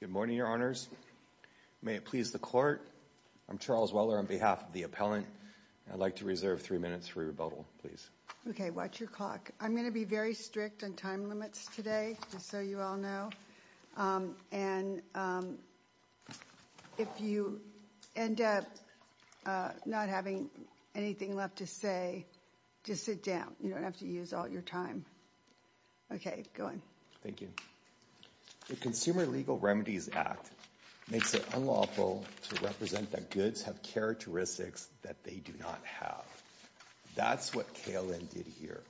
Good morning, Your Honors. May it please the Court. I'm Charles Weller on behalf of the appellant. I'd like to reserve three minutes for rebuttal, please. Okay, watch your clock. I'm going to be very strict on time limits today, just so you all know. And if you end up not having anything left to say, just sit down. You don't have to use all your time. Okay, go on. Thank you. The Consumer Legal Remedies Act makes it unlawful to represent that goods have characteristics that they do not have. That's what KLN did here.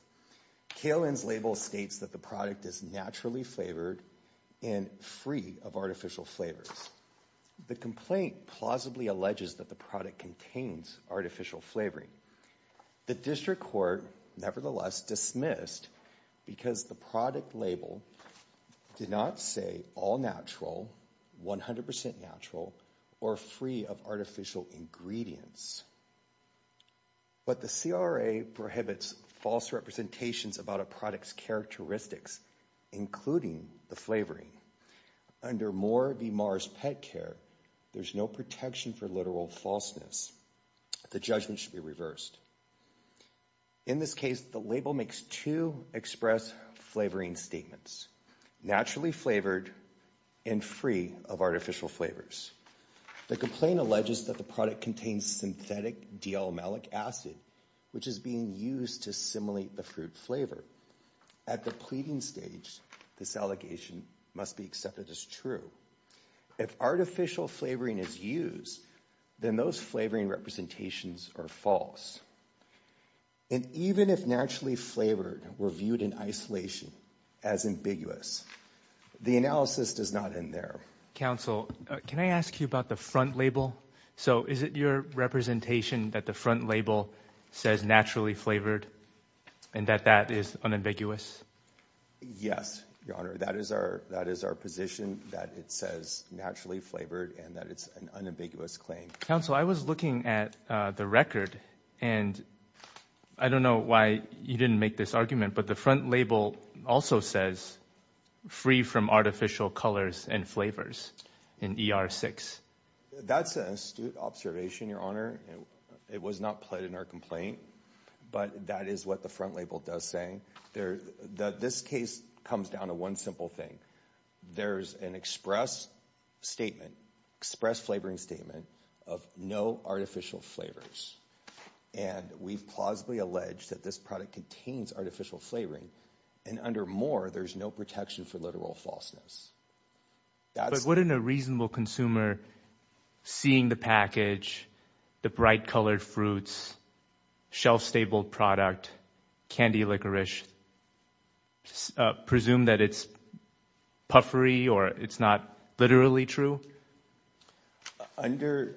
KLN's label states that the product is naturally flavored and free of artificial flavors. The complaint plausibly alleges that the product contains artificial flavoring. The District Court, nevertheless, dismissed because the product label did not say all natural, 100% natural, or free of artificial ingredients. But the CRA prohibits false representations about a product's characteristics, including the flavoring. And under Moore v. Mars Pet Care, there's no protection for literal falseness. The judgment should be reversed. In this case, the label makes two express flavoring statements, naturally flavored and free of artificial flavors. The complaint alleges that the product contains synthetic D-alumelic acid, which is being used to simulate the fruit flavor. At the pleading stage, this allegation must be accepted as true. If artificial flavoring is used, then those flavoring representations are false. And even if naturally flavored were viewed in isolation as ambiguous, the analysis does not end there. Counsel, can I ask you about the front label? So is it your representation that the front label says naturally flavored and that that is unambiguous? Yes, Your Honor. That is our position, that it says naturally flavored and that it's an unambiguous claim. Counsel, I was looking at the record and I don't know why you didn't make this argument, but the front label also says free from artificial colors and flavors in ER 6. That's an astute observation, Your Honor. It was not pled in our complaint, but that is what the front label does say. This case comes down to one simple thing. There's an express statement, express flavoring statement of no artificial flavors. And we've plausibly alleged that this product contains artificial flavoring. And under more, there's no protection for literal falseness. But wouldn't a reasonable consumer, seeing the package, the bright colored fruits, shelf-stable product, candy licorice, presume that it's puffery or it's not literally true? Under,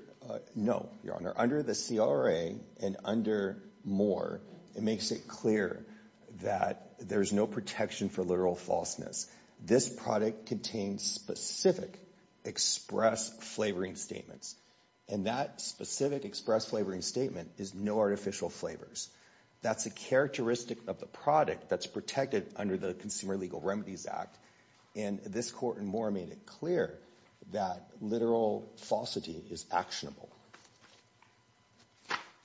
no, Your Honor. Under the CRA and under more, it makes it clear that there's no protection for literal falseness. This product contains specific express flavoring statements. And that specific express flavoring statement is no artificial flavors. That's a characteristic of the product that's protected under the Consumer Legal Remedies Act. And this court and more made it clear that literal falsity is actionable.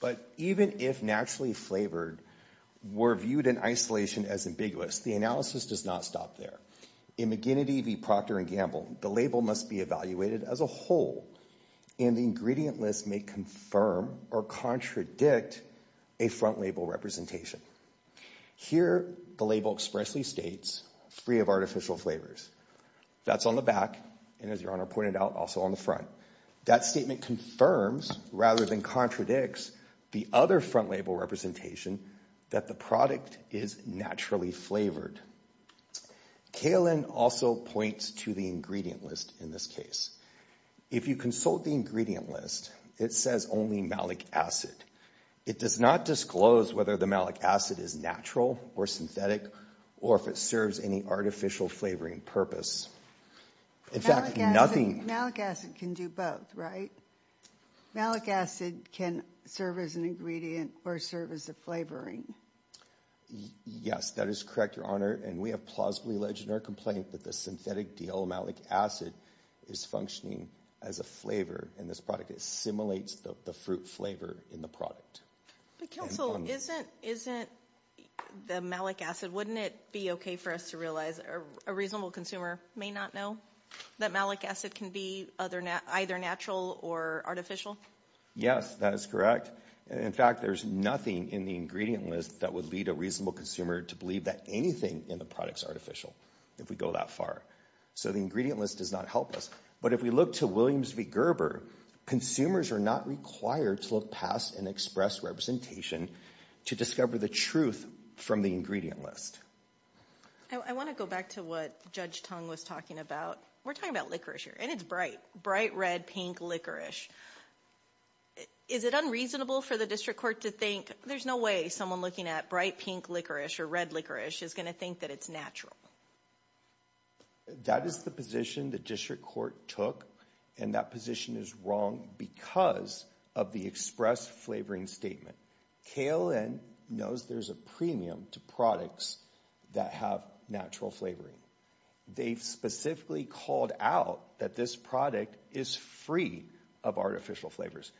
But even if naturally flavored were viewed in isolation as ambiguous, the analysis does not stop there. In McGinnity v. Proctor and Gamble, the label must be evaluated as a whole. And the ingredient list may confirm or contradict a front label representation. Here, the label expressly states, free of artificial flavors. That's on the back, and as Your Honor pointed out, also on the front. That statement confirms rather than contradicts the other front label representation that the product is naturally flavored. Kalin also points to the ingredient list in this case. If you consult the ingredient list, it says only malic acid. It does not disclose whether the malic acid is natural or synthetic or if it serves any artificial flavoring purpose. In fact, nothing. Malic acid can do both, right? Malic acid can serve as an ingredient or serve as a flavoring. Yes, that is correct, Your Honor. And we have plausibly alleged in our complaint that the synthetic DL malic acid is functioning as a flavor in this product. It simulates the fruit flavor in the product. But counsel, isn't the malic acid, wouldn't it be okay for us to realize a reasonable consumer may not know that malic acid can be either natural or artificial? Yes, that is correct. In fact, there's nothing in the ingredient list that would lead a reasonable consumer to believe that anything in the product is artificial, if we go that far. So the ingredient list does not help us. But if we look to Williams v. Gerber, consumers are not required to look past an express representation to discover the truth from the ingredient list. I want to go back to what Judge Tong was talking about. We're talking about licorice here, and it's bright. Bright red, pink licorice. Is it unreasonable for the district court to think, there's no way someone looking at bright pink licorice or red licorice is going to think that it's natural? That is the position the district court took, and that position is wrong because of the express flavoring statement. KLN knows there's a premium to products that have natural flavoring. They specifically called out that this product is free of artificial flavors.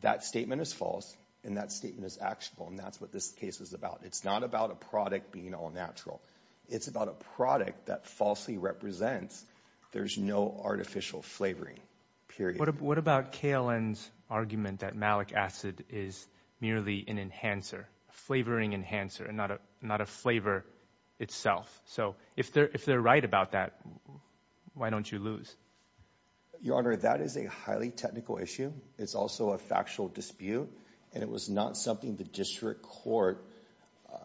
That statement is false, and that statement is actual, and that's what this case is about. It's not about a product being all natural. It's about a product that falsely represents there's no artificial flavoring, period. What about KLN's argument that malic acid is merely an enhancer, a flavoring enhancer, and not a flavor itself? If they're right about that, why don't you lose? Your Honor, that is a highly technical issue. It's also a factual dispute, and it was not something the district court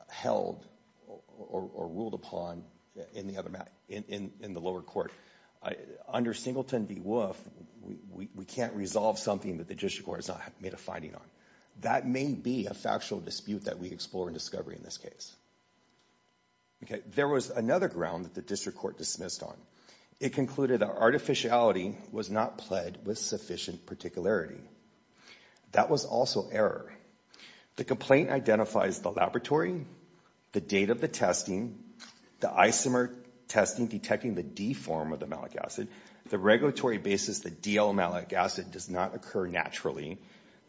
held or ruled upon in the lower court. Under Singleton v. Wolf, we can't resolve something that the district court has not made a finding on. That may be a factual dispute that we explore in discovery in this case. Okay, there was another ground that the district court dismissed on. It concluded that artificiality was not pled with sufficient particularity. That was also error. The complaint identifies the laboratory, the date of the testing, the isomer testing detecting the D form of the malic acid, the regulatory basis that D-L malic acid does not occur naturally,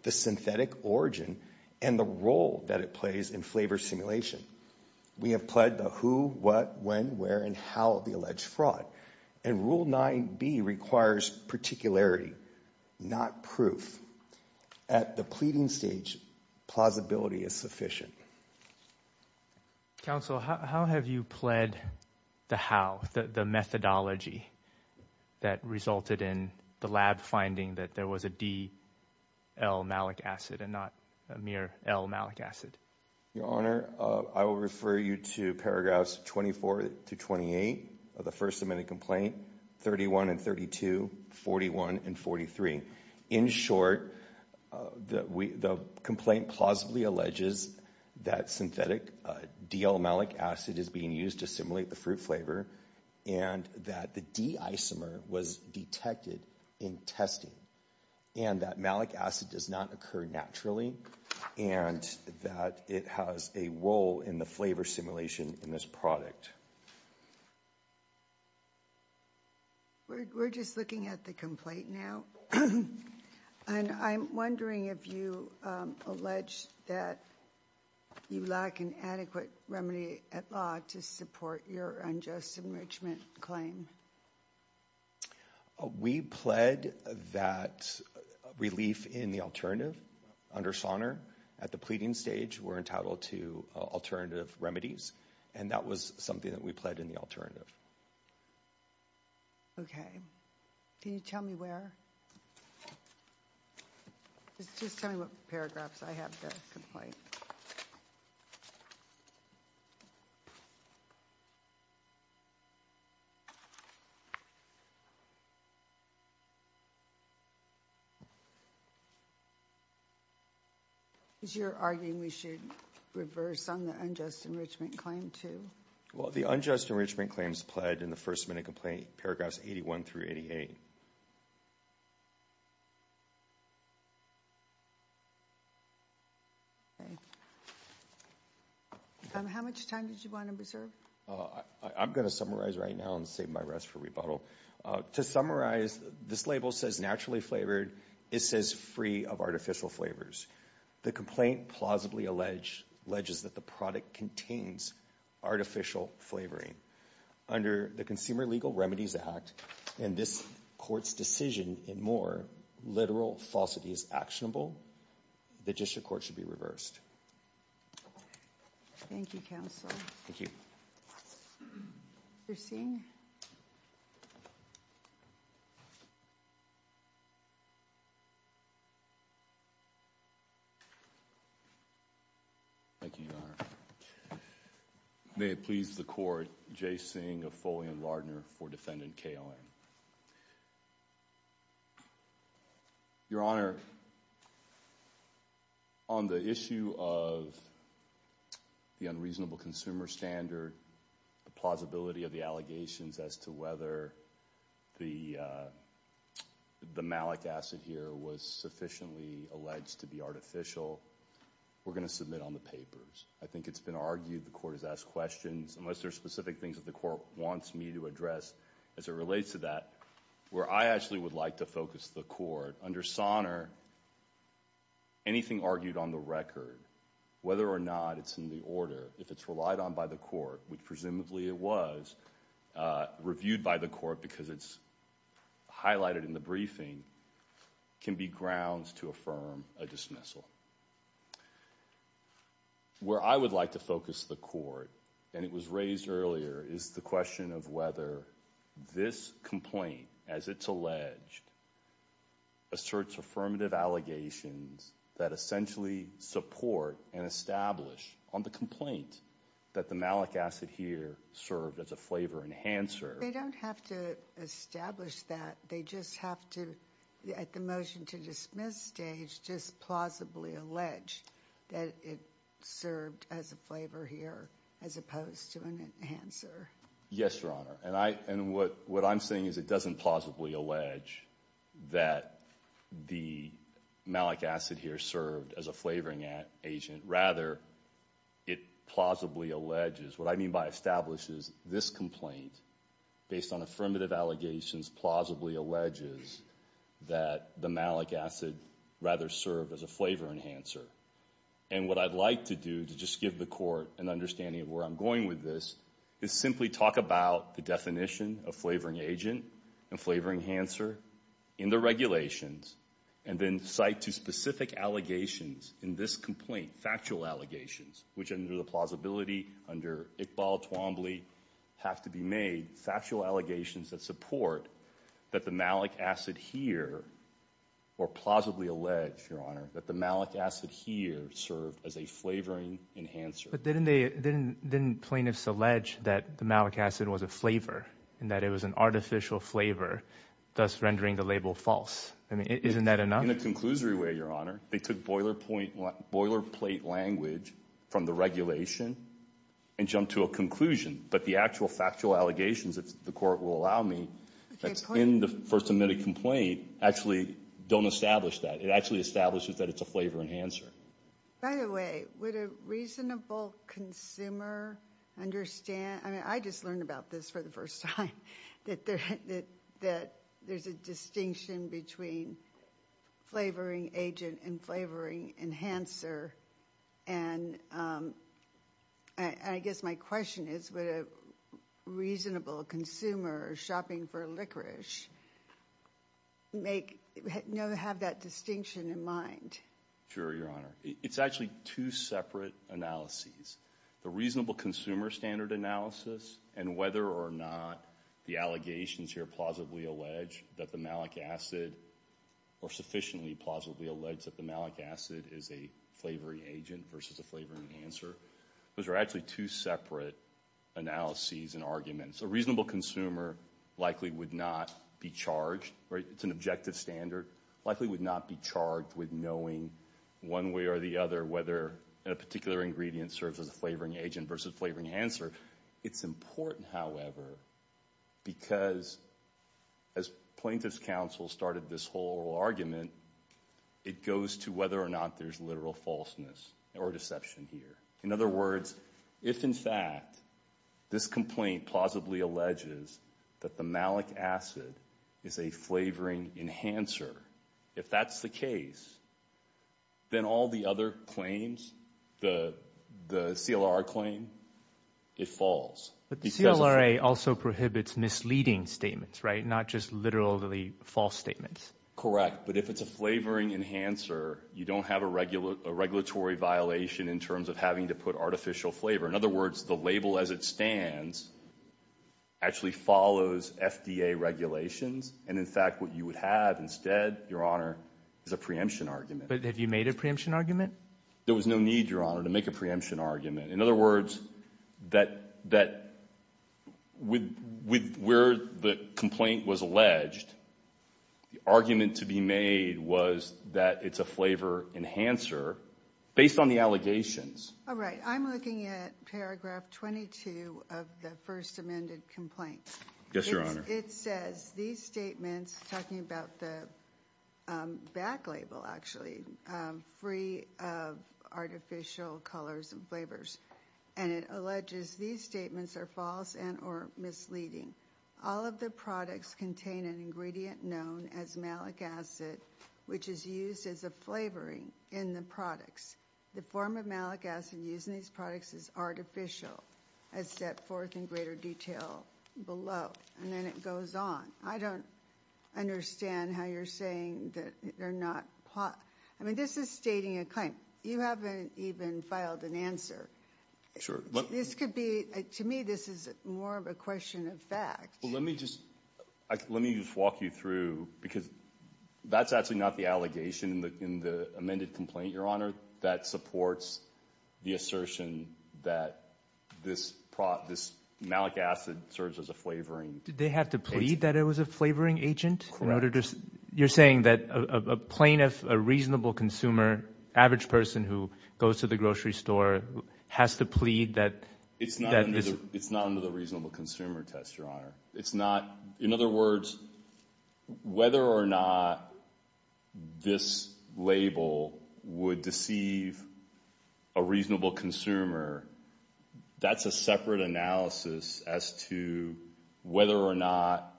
the synthetic origin, and the role that it plays in flavor simulation. We have pled the who, what, when, where, and how of the alleged fraud. And Rule 9B requires particularity, not proof. At the pleading stage, plausibility is sufficient. Thank you. Counsel, how have you pled the how, the methodology that resulted in the lab finding that there was a D-L malic acid and not a mere L malic acid? Your Honor, I will refer you to paragraphs 24 to 28 of the First Amendment complaint, 31 and 32, 41 and 43. In short, the complaint plausibly alleges that synthetic D-L malic acid is being used to simulate the fruit flavor and that the D isomer was detected in testing and that malic acid does not occur naturally and that it has a role in the flavor simulation in this product. We're just looking at the complaint now. And I'm wondering if you allege that you lack an adequate remedy at law to support your unjust enrichment claim. We pled that relief in the alternative under Sonner. At the pleading stage, we're entitled to alternative remedies. And that was something that we pled in the alternative. Okay. Can you tell me where? Just tell me what paragraphs I have in the complaint. Is your arguing we should reverse on the unjust enrichment claim, too? Well, the unjust enrichment claims pled in the First Amendment complaint, paragraphs 81 through 88. Okay. How much time did you want to reserve? I'm going to summarize right now and save my rest for rebuttal. To summarize, this label says naturally flavored. It says free of artificial flavors. The complaint plausibly alleges that the product contains artificial flavoring. Under the Consumer Legal Remedies Act, in this court's decision and more, literal falsity is actionable. The district court should be reversed. Thank you, counsel. Thank you. Your Honor. Thank you, Your Honor. May it please the court, J. Singh of Foley and Lardner for Defendant Kalin. Your Honor, on the issue of the unreasonable consumer standard, the plausibility of the allegations as to whether the malic acid here was sufficiently alleged to be artificial, we're going to submit on the papers. I think it's been argued the court has asked questions. Unless there are specific things that the court wants me to address as it relates to that. Where I actually would like to focus the court, under Sonner, anything argued on the record, whether or not it's in the order, if it's relied on by the court, which presumably it was, reviewed by the court because it's highlighted in the briefing, can be grounds to affirm a dismissal. Where I would like to focus the court, and it was raised earlier, is the question of whether this complaint, as it's alleged, asserts affirmative allegations that essentially support and establish on the complaint that the malic acid here served as a flavor enhancer. They don't have to establish that. They just have to, at the motion to dismiss stage, just plausibly allege that it served as a flavor here as opposed to an enhancer. Yes, Your Honor. And what I'm saying is it doesn't plausibly allege that the malic acid here served as a flavoring agent. Rather, it plausibly alleges, what I mean by establishes, this complaint, based on affirmative allegations, plausibly alleges that the malic acid rather served as a flavor enhancer. And what I'd like to do, to just give the court an understanding of where I'm going with this, is simply talk about the definition of flavoring agent and flavor enhancer in the regulations. And then cite to specific allegations in this complaint, factual allegations, which under the plausibility, under Iqbal, Twombly, have to be made, factual allegations that support that the malic acid here, or plausibly allege, Your Honor, that the malic acid here served as a flavoring enhancer. But didn't they, didn't plaintiffs allege that the malic acid was a flavor, and that it was an artificial flavor, thus rendering the label false? I mean, isn't that enough? In a conclusory way, Your Honor. They took boilerplate language from the regulation and jumped to a conclusion. But the actual factual allegations, if the court will allow me, that's in the first amendment complaint, actually don't establish that. It actually establishes that it's a flavor enhancer. By the way, would a reasonable consumer understand, I mean, I just learned about this for the first time, that there's a distinction between flavoring agent and flavoring enhancer, and I guess my question is, would a reasonable consumer shopping for licorice have that distinction in mind? Sure, Your Honor. It's actually two separate analyses. The reasonable consumer standard analysis, and whether or not the allegations here plausibly allege that the malic acid, or sufficiently plausibly allege that the malic acid is a flavoring agent versus a flavoring enhancer, those are actually two separate analyses and arguments. A reasonable consumer likely would not be charged, it's an objective standard, likely would not be charged with knowing one way or the other whether a particular ingredient serves as a flavoring agent versus flavoring enhancer. It's important, however, because as plaintiff's counsel started this whole argument, it goes to whether or not there's literal falseness or deception here. In other words, if in fact this complaint plausibly alleges that the malic acid is a flavoring enhancer, if that's the case, then all the other claims, the CLR claim, it's false. But the CLRA also prohibits misleading statements, right, not just literally false statements. Correct, but if it's a flavoring enhancer, you don't have a regulatory violation in terms of having to put artificial flavor. In other words, the label as it stands actually follows FDA regulations, and in fact what you would have instead, Your Honor, is a preemption argument. But have you made a preemption argument? There was no need, Your Honor, to make a preemption argument. In other words, that with where the complaint was alleged, the argument to be made was that it's a flavor enhancer based on the allegations. All right, I'm looking at paragraph 22 of the first amended complaint. Yes, Your Honor. It says these statements, talking about the back label actually, free of artificial colors and flavors, and it alleges these statements are false and or misleading. All of the products contain an ingredient known as malic acid, which is used as a flavoring in the products. The form of malic acid used in these products is artificial, as set forth in greater detail below, and then it goes on. I don't understand how you're saying that they're not – I mean, this is stating a claim. You haven't even filed an answer. Sure. This could be – to me, this is more of a question of fact. Well, let me just walk you through, because that's actually not the allegation in the amended complaint, Your Honor, that supports the assertion that this malic acid serves as a flavoring. Did they have to plead that it was a flavoring agent? You're saying that a plaintiff, a reasonable consumer, average person who goes to the grocery store has to plead that this – It's not under the reasonable consumer test, Your Honor. It's not – in other words, whether or not this label would deceive a reasonable consumer, that's a separate analysis as to whether or not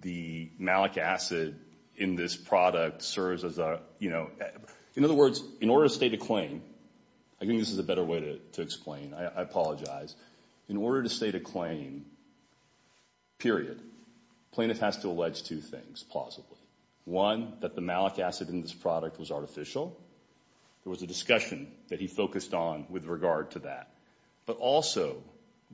the malic acid in this product serves as a – In order to state a claim, period, plaintiff has to allege two things, plausibly. One, that the malic acid in this product was artificial. There was a discussion that he focused on with regard to that, but also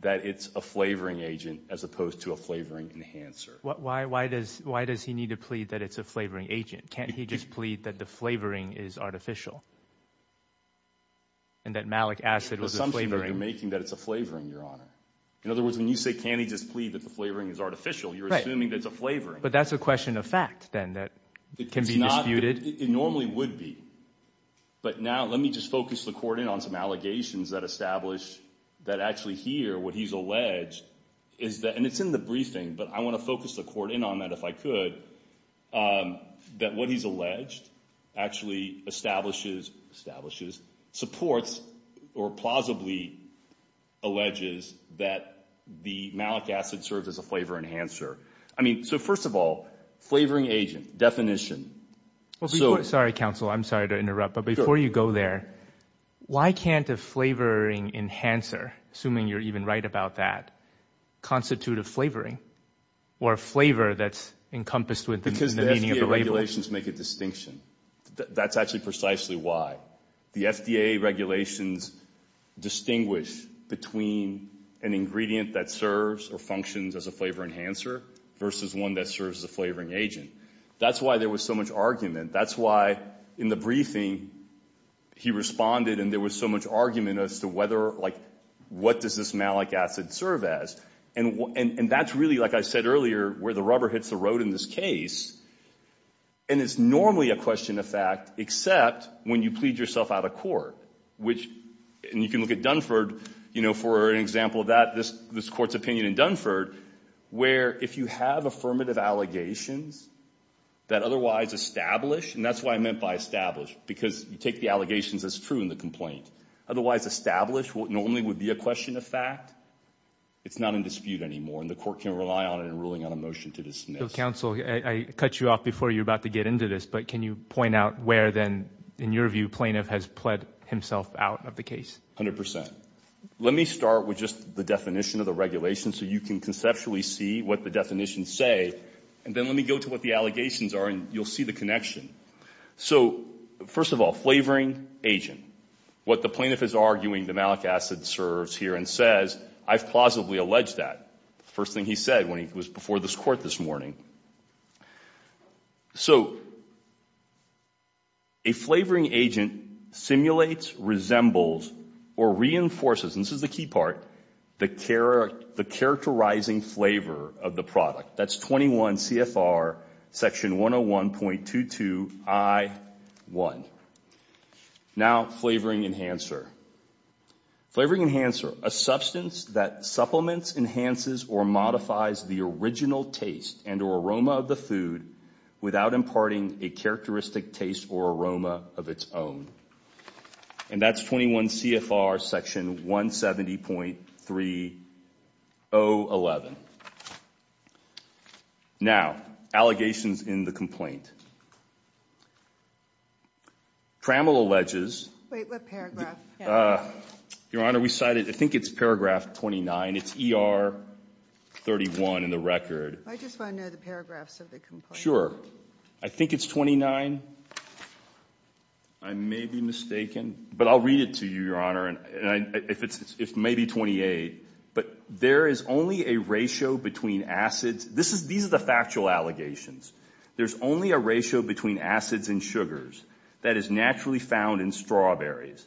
that it's a flavoring agent as opposed to a flavoring enhancer. Why does he need to plead that it's a flavoring agent? Can't he just plead that the flavoring is artificial and that malic acid was a flavoring? You're making that it's a flavoring, Your Honor. In other words, when you say can't he just plead that the flavoring is artificial, you're assuming that it's a flavoring. But that's a question of fact then that can be disputed. It normally would be. But now let me just focus the court in on some allegations that establish that actually here what he's alleged is that – and it's in the briefing, but I want to focus the court in on that if I could. That what he's alleged actually establishes – establishes, supports or plausibly alleges that the malic acid serves as a flavor enhancer. I mean so first of all, flavoring agent, definition. Sorry, counsel. I'm sorry to interrupt. But before you go there, why can't a flavoring enhancer, assuming you're even right about that, constitute a flavoring or a flavor that's encompassed within the meaning of a label? Because the FDA regulations make a distinction. That's actually precisely why. The FDA regulations distinguish between an ingredient that serves or functions as a flavor enhancer versus one that serves as a flavoring agent. That's why there was so much argument. That's why in the briefing he responded and there was so much argument as to whether – like what does this malic acid serve as? And that's really, like I said earlier, where the rubber hits the road in this case. And it's normally a question of fact except when you plead yourself out of court. And you can look at Dunford. For an example of that, this court's opinion in Dunford where if you have affirmative allegations that otherwise establish, and that's what I meant by establish because you take the allegations as true in the complaint. Otherwise establish, what normally would be a question of fact, it's not in dispute anymore. And the court can rely on it in ruling on a motion to dismiss. Counsel, I cut you off before you were about to get into this. But can you point out where then in your view plaintiff has plead himself out of the case? A hundred percent. Let me start with just the definition of the regulation so you can conceptually see what the definitions say. And then let me go to what the allegations are and you'll see the connection. So first of all, flavoring agent. What the plaintiff is arguing the malic acid serves here and says, I've plausibly alleged that. First thing he said when he was before this court this morning. So a flavoring agent simulates, resembles, or reinforces, and this is the key part, the characterizing flavor of the product. That's 21 CFR section 101.22I1. Now flavoring enhancer. Flavoring enhancer. A substance that supplements, enhances, or modifies the original taste and or aroma of the food without imparting a characteristic taste or aroma of its own. And that's 21 CFR section 170.3011. Now, allegations in the complaint. Trammell alleges. Wait, what paragraph? Your Honor, we cited, I think it's paragraph 29. It's ER 31 in the record. I just want to know the paragraphs of the complaint. Sure. I think it's 29. I may be mistaken. But I'll read it to you, Your Honor. And if it's maybe 28. But there is only a ratio between acids. This is, these are the factual allegations. There's only a ratio between acids and sugars that is naturally found in strawberries.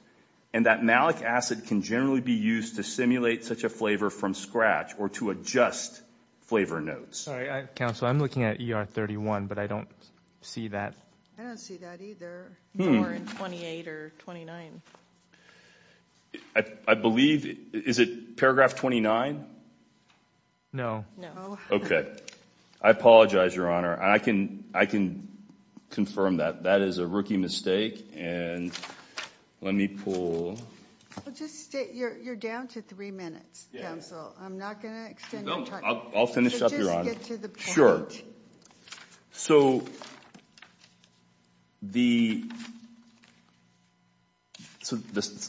And that malic acid can generally be used to simulate such a flavor from scratch or to adjust flavor notes. Counsel, I'm looking at ER 31, but I don't see that. I don't see that either. Or in 28 or 29. I believe, is it paragraph 29? No. No. Okay. I apologize, Your Honor. I can confirm that. That is a rookie mistake. And let me pull. You're down to three minutes, counsel. I'm not going to extend your time. I'll finish up, Your Honor. Just get to the point. So, the,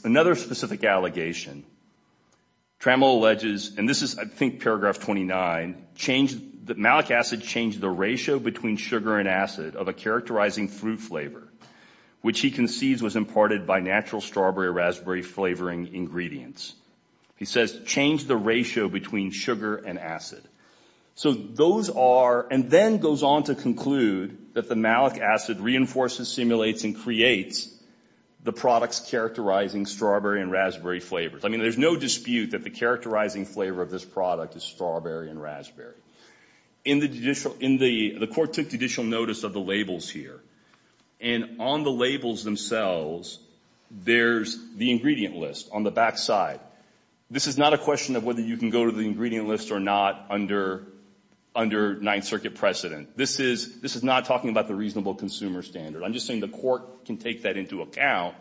another specific allegation. Trammell alleges, and this is, I think, paragraph 29. Malic acid changed the ratio between sugar and acid of a characterizing fruit flavor, which he concedes was imparted by natural strawberry or raspberry flavoring ingredients. He says, changed the ratio between sugar and acid. So, those are, and then goes on to conclude that the malic acid reinforces, simulates, and creates the products characterizing strawberry and raspberry flavors. I mean, there's no dispute that the characterizing flavor of this product is strawberry and raspberry. In the judicial, in the, the court took judicial notice of the labels here. And on the labels themselves, there's the ingredient list on the back side. This is not a question of whether you can go to the ingredient list or not under Ninth Circuit precedent. This is, this is not talking about the reasonable consumer standard. I'm just saying the court can take that into account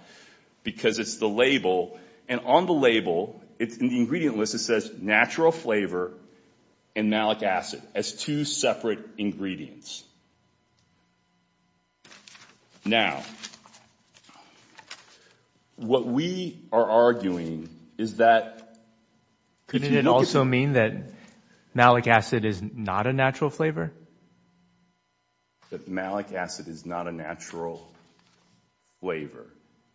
because it's the label. And on the label, it's in the ingredient list. It says natural flavor and malic acid as two separate ingredients. Now, what we are arguing is that. Could it also mean that malic acid is not a natural flavor? That malic acid is not a natural flavor.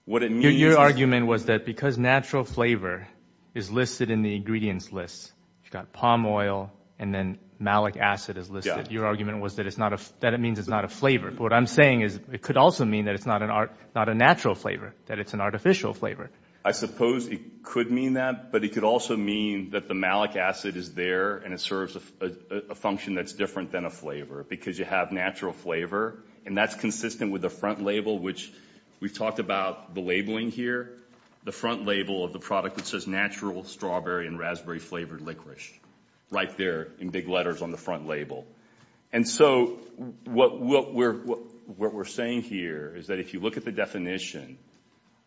What it means is. Your argument was that because natural flavor is listed in the ingredients list, you've got palm oil and then malic acid is listed. Your argument was that it's not a, that it means it's not a flavor. But what I'm saying is it could also mean that it's not an art, not a natural flavor, that it's an artificial flavor. I suppose it could mean that, but it could also mean that the malic acid is there and it serves a function that's different than a flavor because you have natural flavor. And that's consistent with the front label, which we've talked about the labeling here. The front label of the product that says natural strawberry and raspberry flavored licorice. Right there in big letters on the front label. And so what we're saying here is that if you look at the definition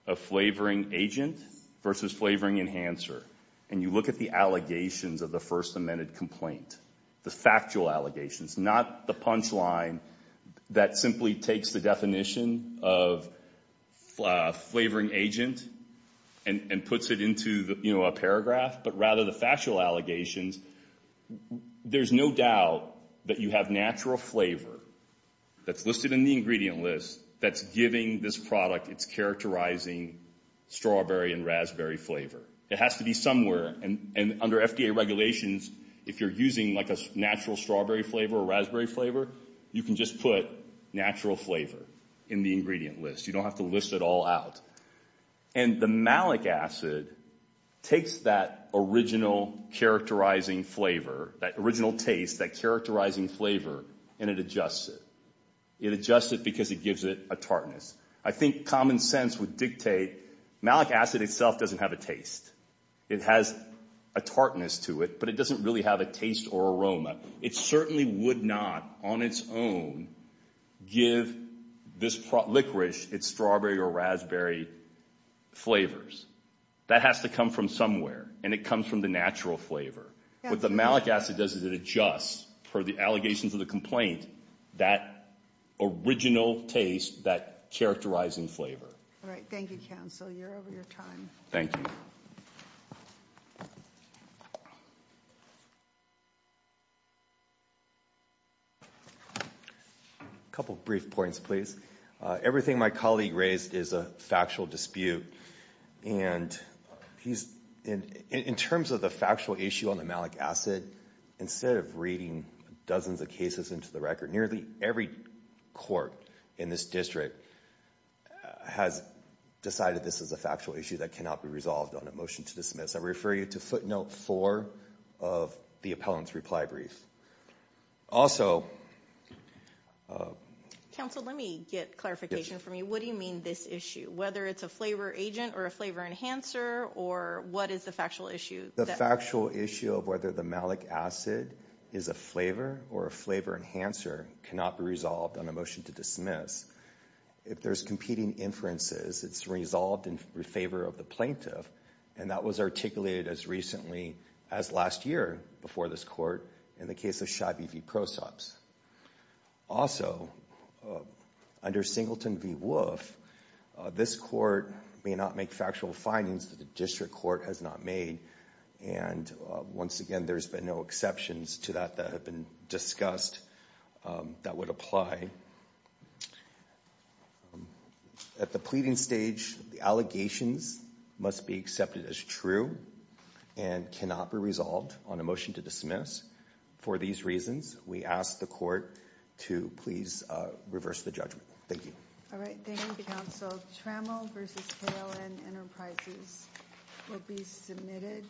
of flavoring agent versus flavoring enhancer and you look at the allegations of the first amended complaint, the factual allegations, not the punchline that simply takes the definition of flavoring agent and puts it into a paragraph, but rather the factual allegations, there's no doubt that you have natural flavor that's listed in the ingredient list that's giving this product its characterizing strawberry and raspberry flavor. It has to be somewhere. And under FDA regulations, if you're using like a natural strawberry flavor or raspberry flavor, you can just put natural flavor in the ingredient list. You don't have to list it all out. And the malic acid takes that original characterizing flavor, that original taste, that characterizing flavor, and it adjusts it. It adjusts it because it gives it a tartness. I think common sense would dictate malic acid itself doesn't have a taste. It has a tartness to it, but it doesn't really have a taste or aroma. It certainly would not on its own give this licorice its strawberry or raspberry flavors. That has to come from somewhere, and it comes from the natural flavor. What the malic acid does is it adjusts for the allegations of the complaint that original taste, that characterizing flavor. All right. Thank you, counsel. You're over your time. Thank you. A couple of brief points, please. Everything my colleague raised is a factual dispute, and in terms of the factual issue on the malic acid, instead of reading dozens of cases into the record, nearly every court in this district has decided this is a factual issue that cannot be resolved on a motion to dismiss. I refer you to footnote four of the appellant's reply brief. Also... Counsel, let me get clarification from you. What do you mean, this issue? Whether it's a flavor agent or a flavor enhancer, or what is the factual issue? The factual issue of whether the malic acid is a flavor or a flavor enhancer cannot be resolved on a motion to dismiss. If there's competing inferences, it's resolved in favor of the plaintiff, and that was articulated as recently as last year before this court in the case of Shivey v. Prosops. Also, under Singleton v. Wolfe, this court may not make factual findings that the district court has not made, and once again, there's been no exceptions to that that have been discussed that would apply. At the pleading stage, the allegations must be accepted as true and cannot be resolved on a motion to dismiss. For these reasons, we ask the court to please reverse the judgment. Thank you. All right, thank you, Counsel. Trammell v. KLN Enterprises will be submitted.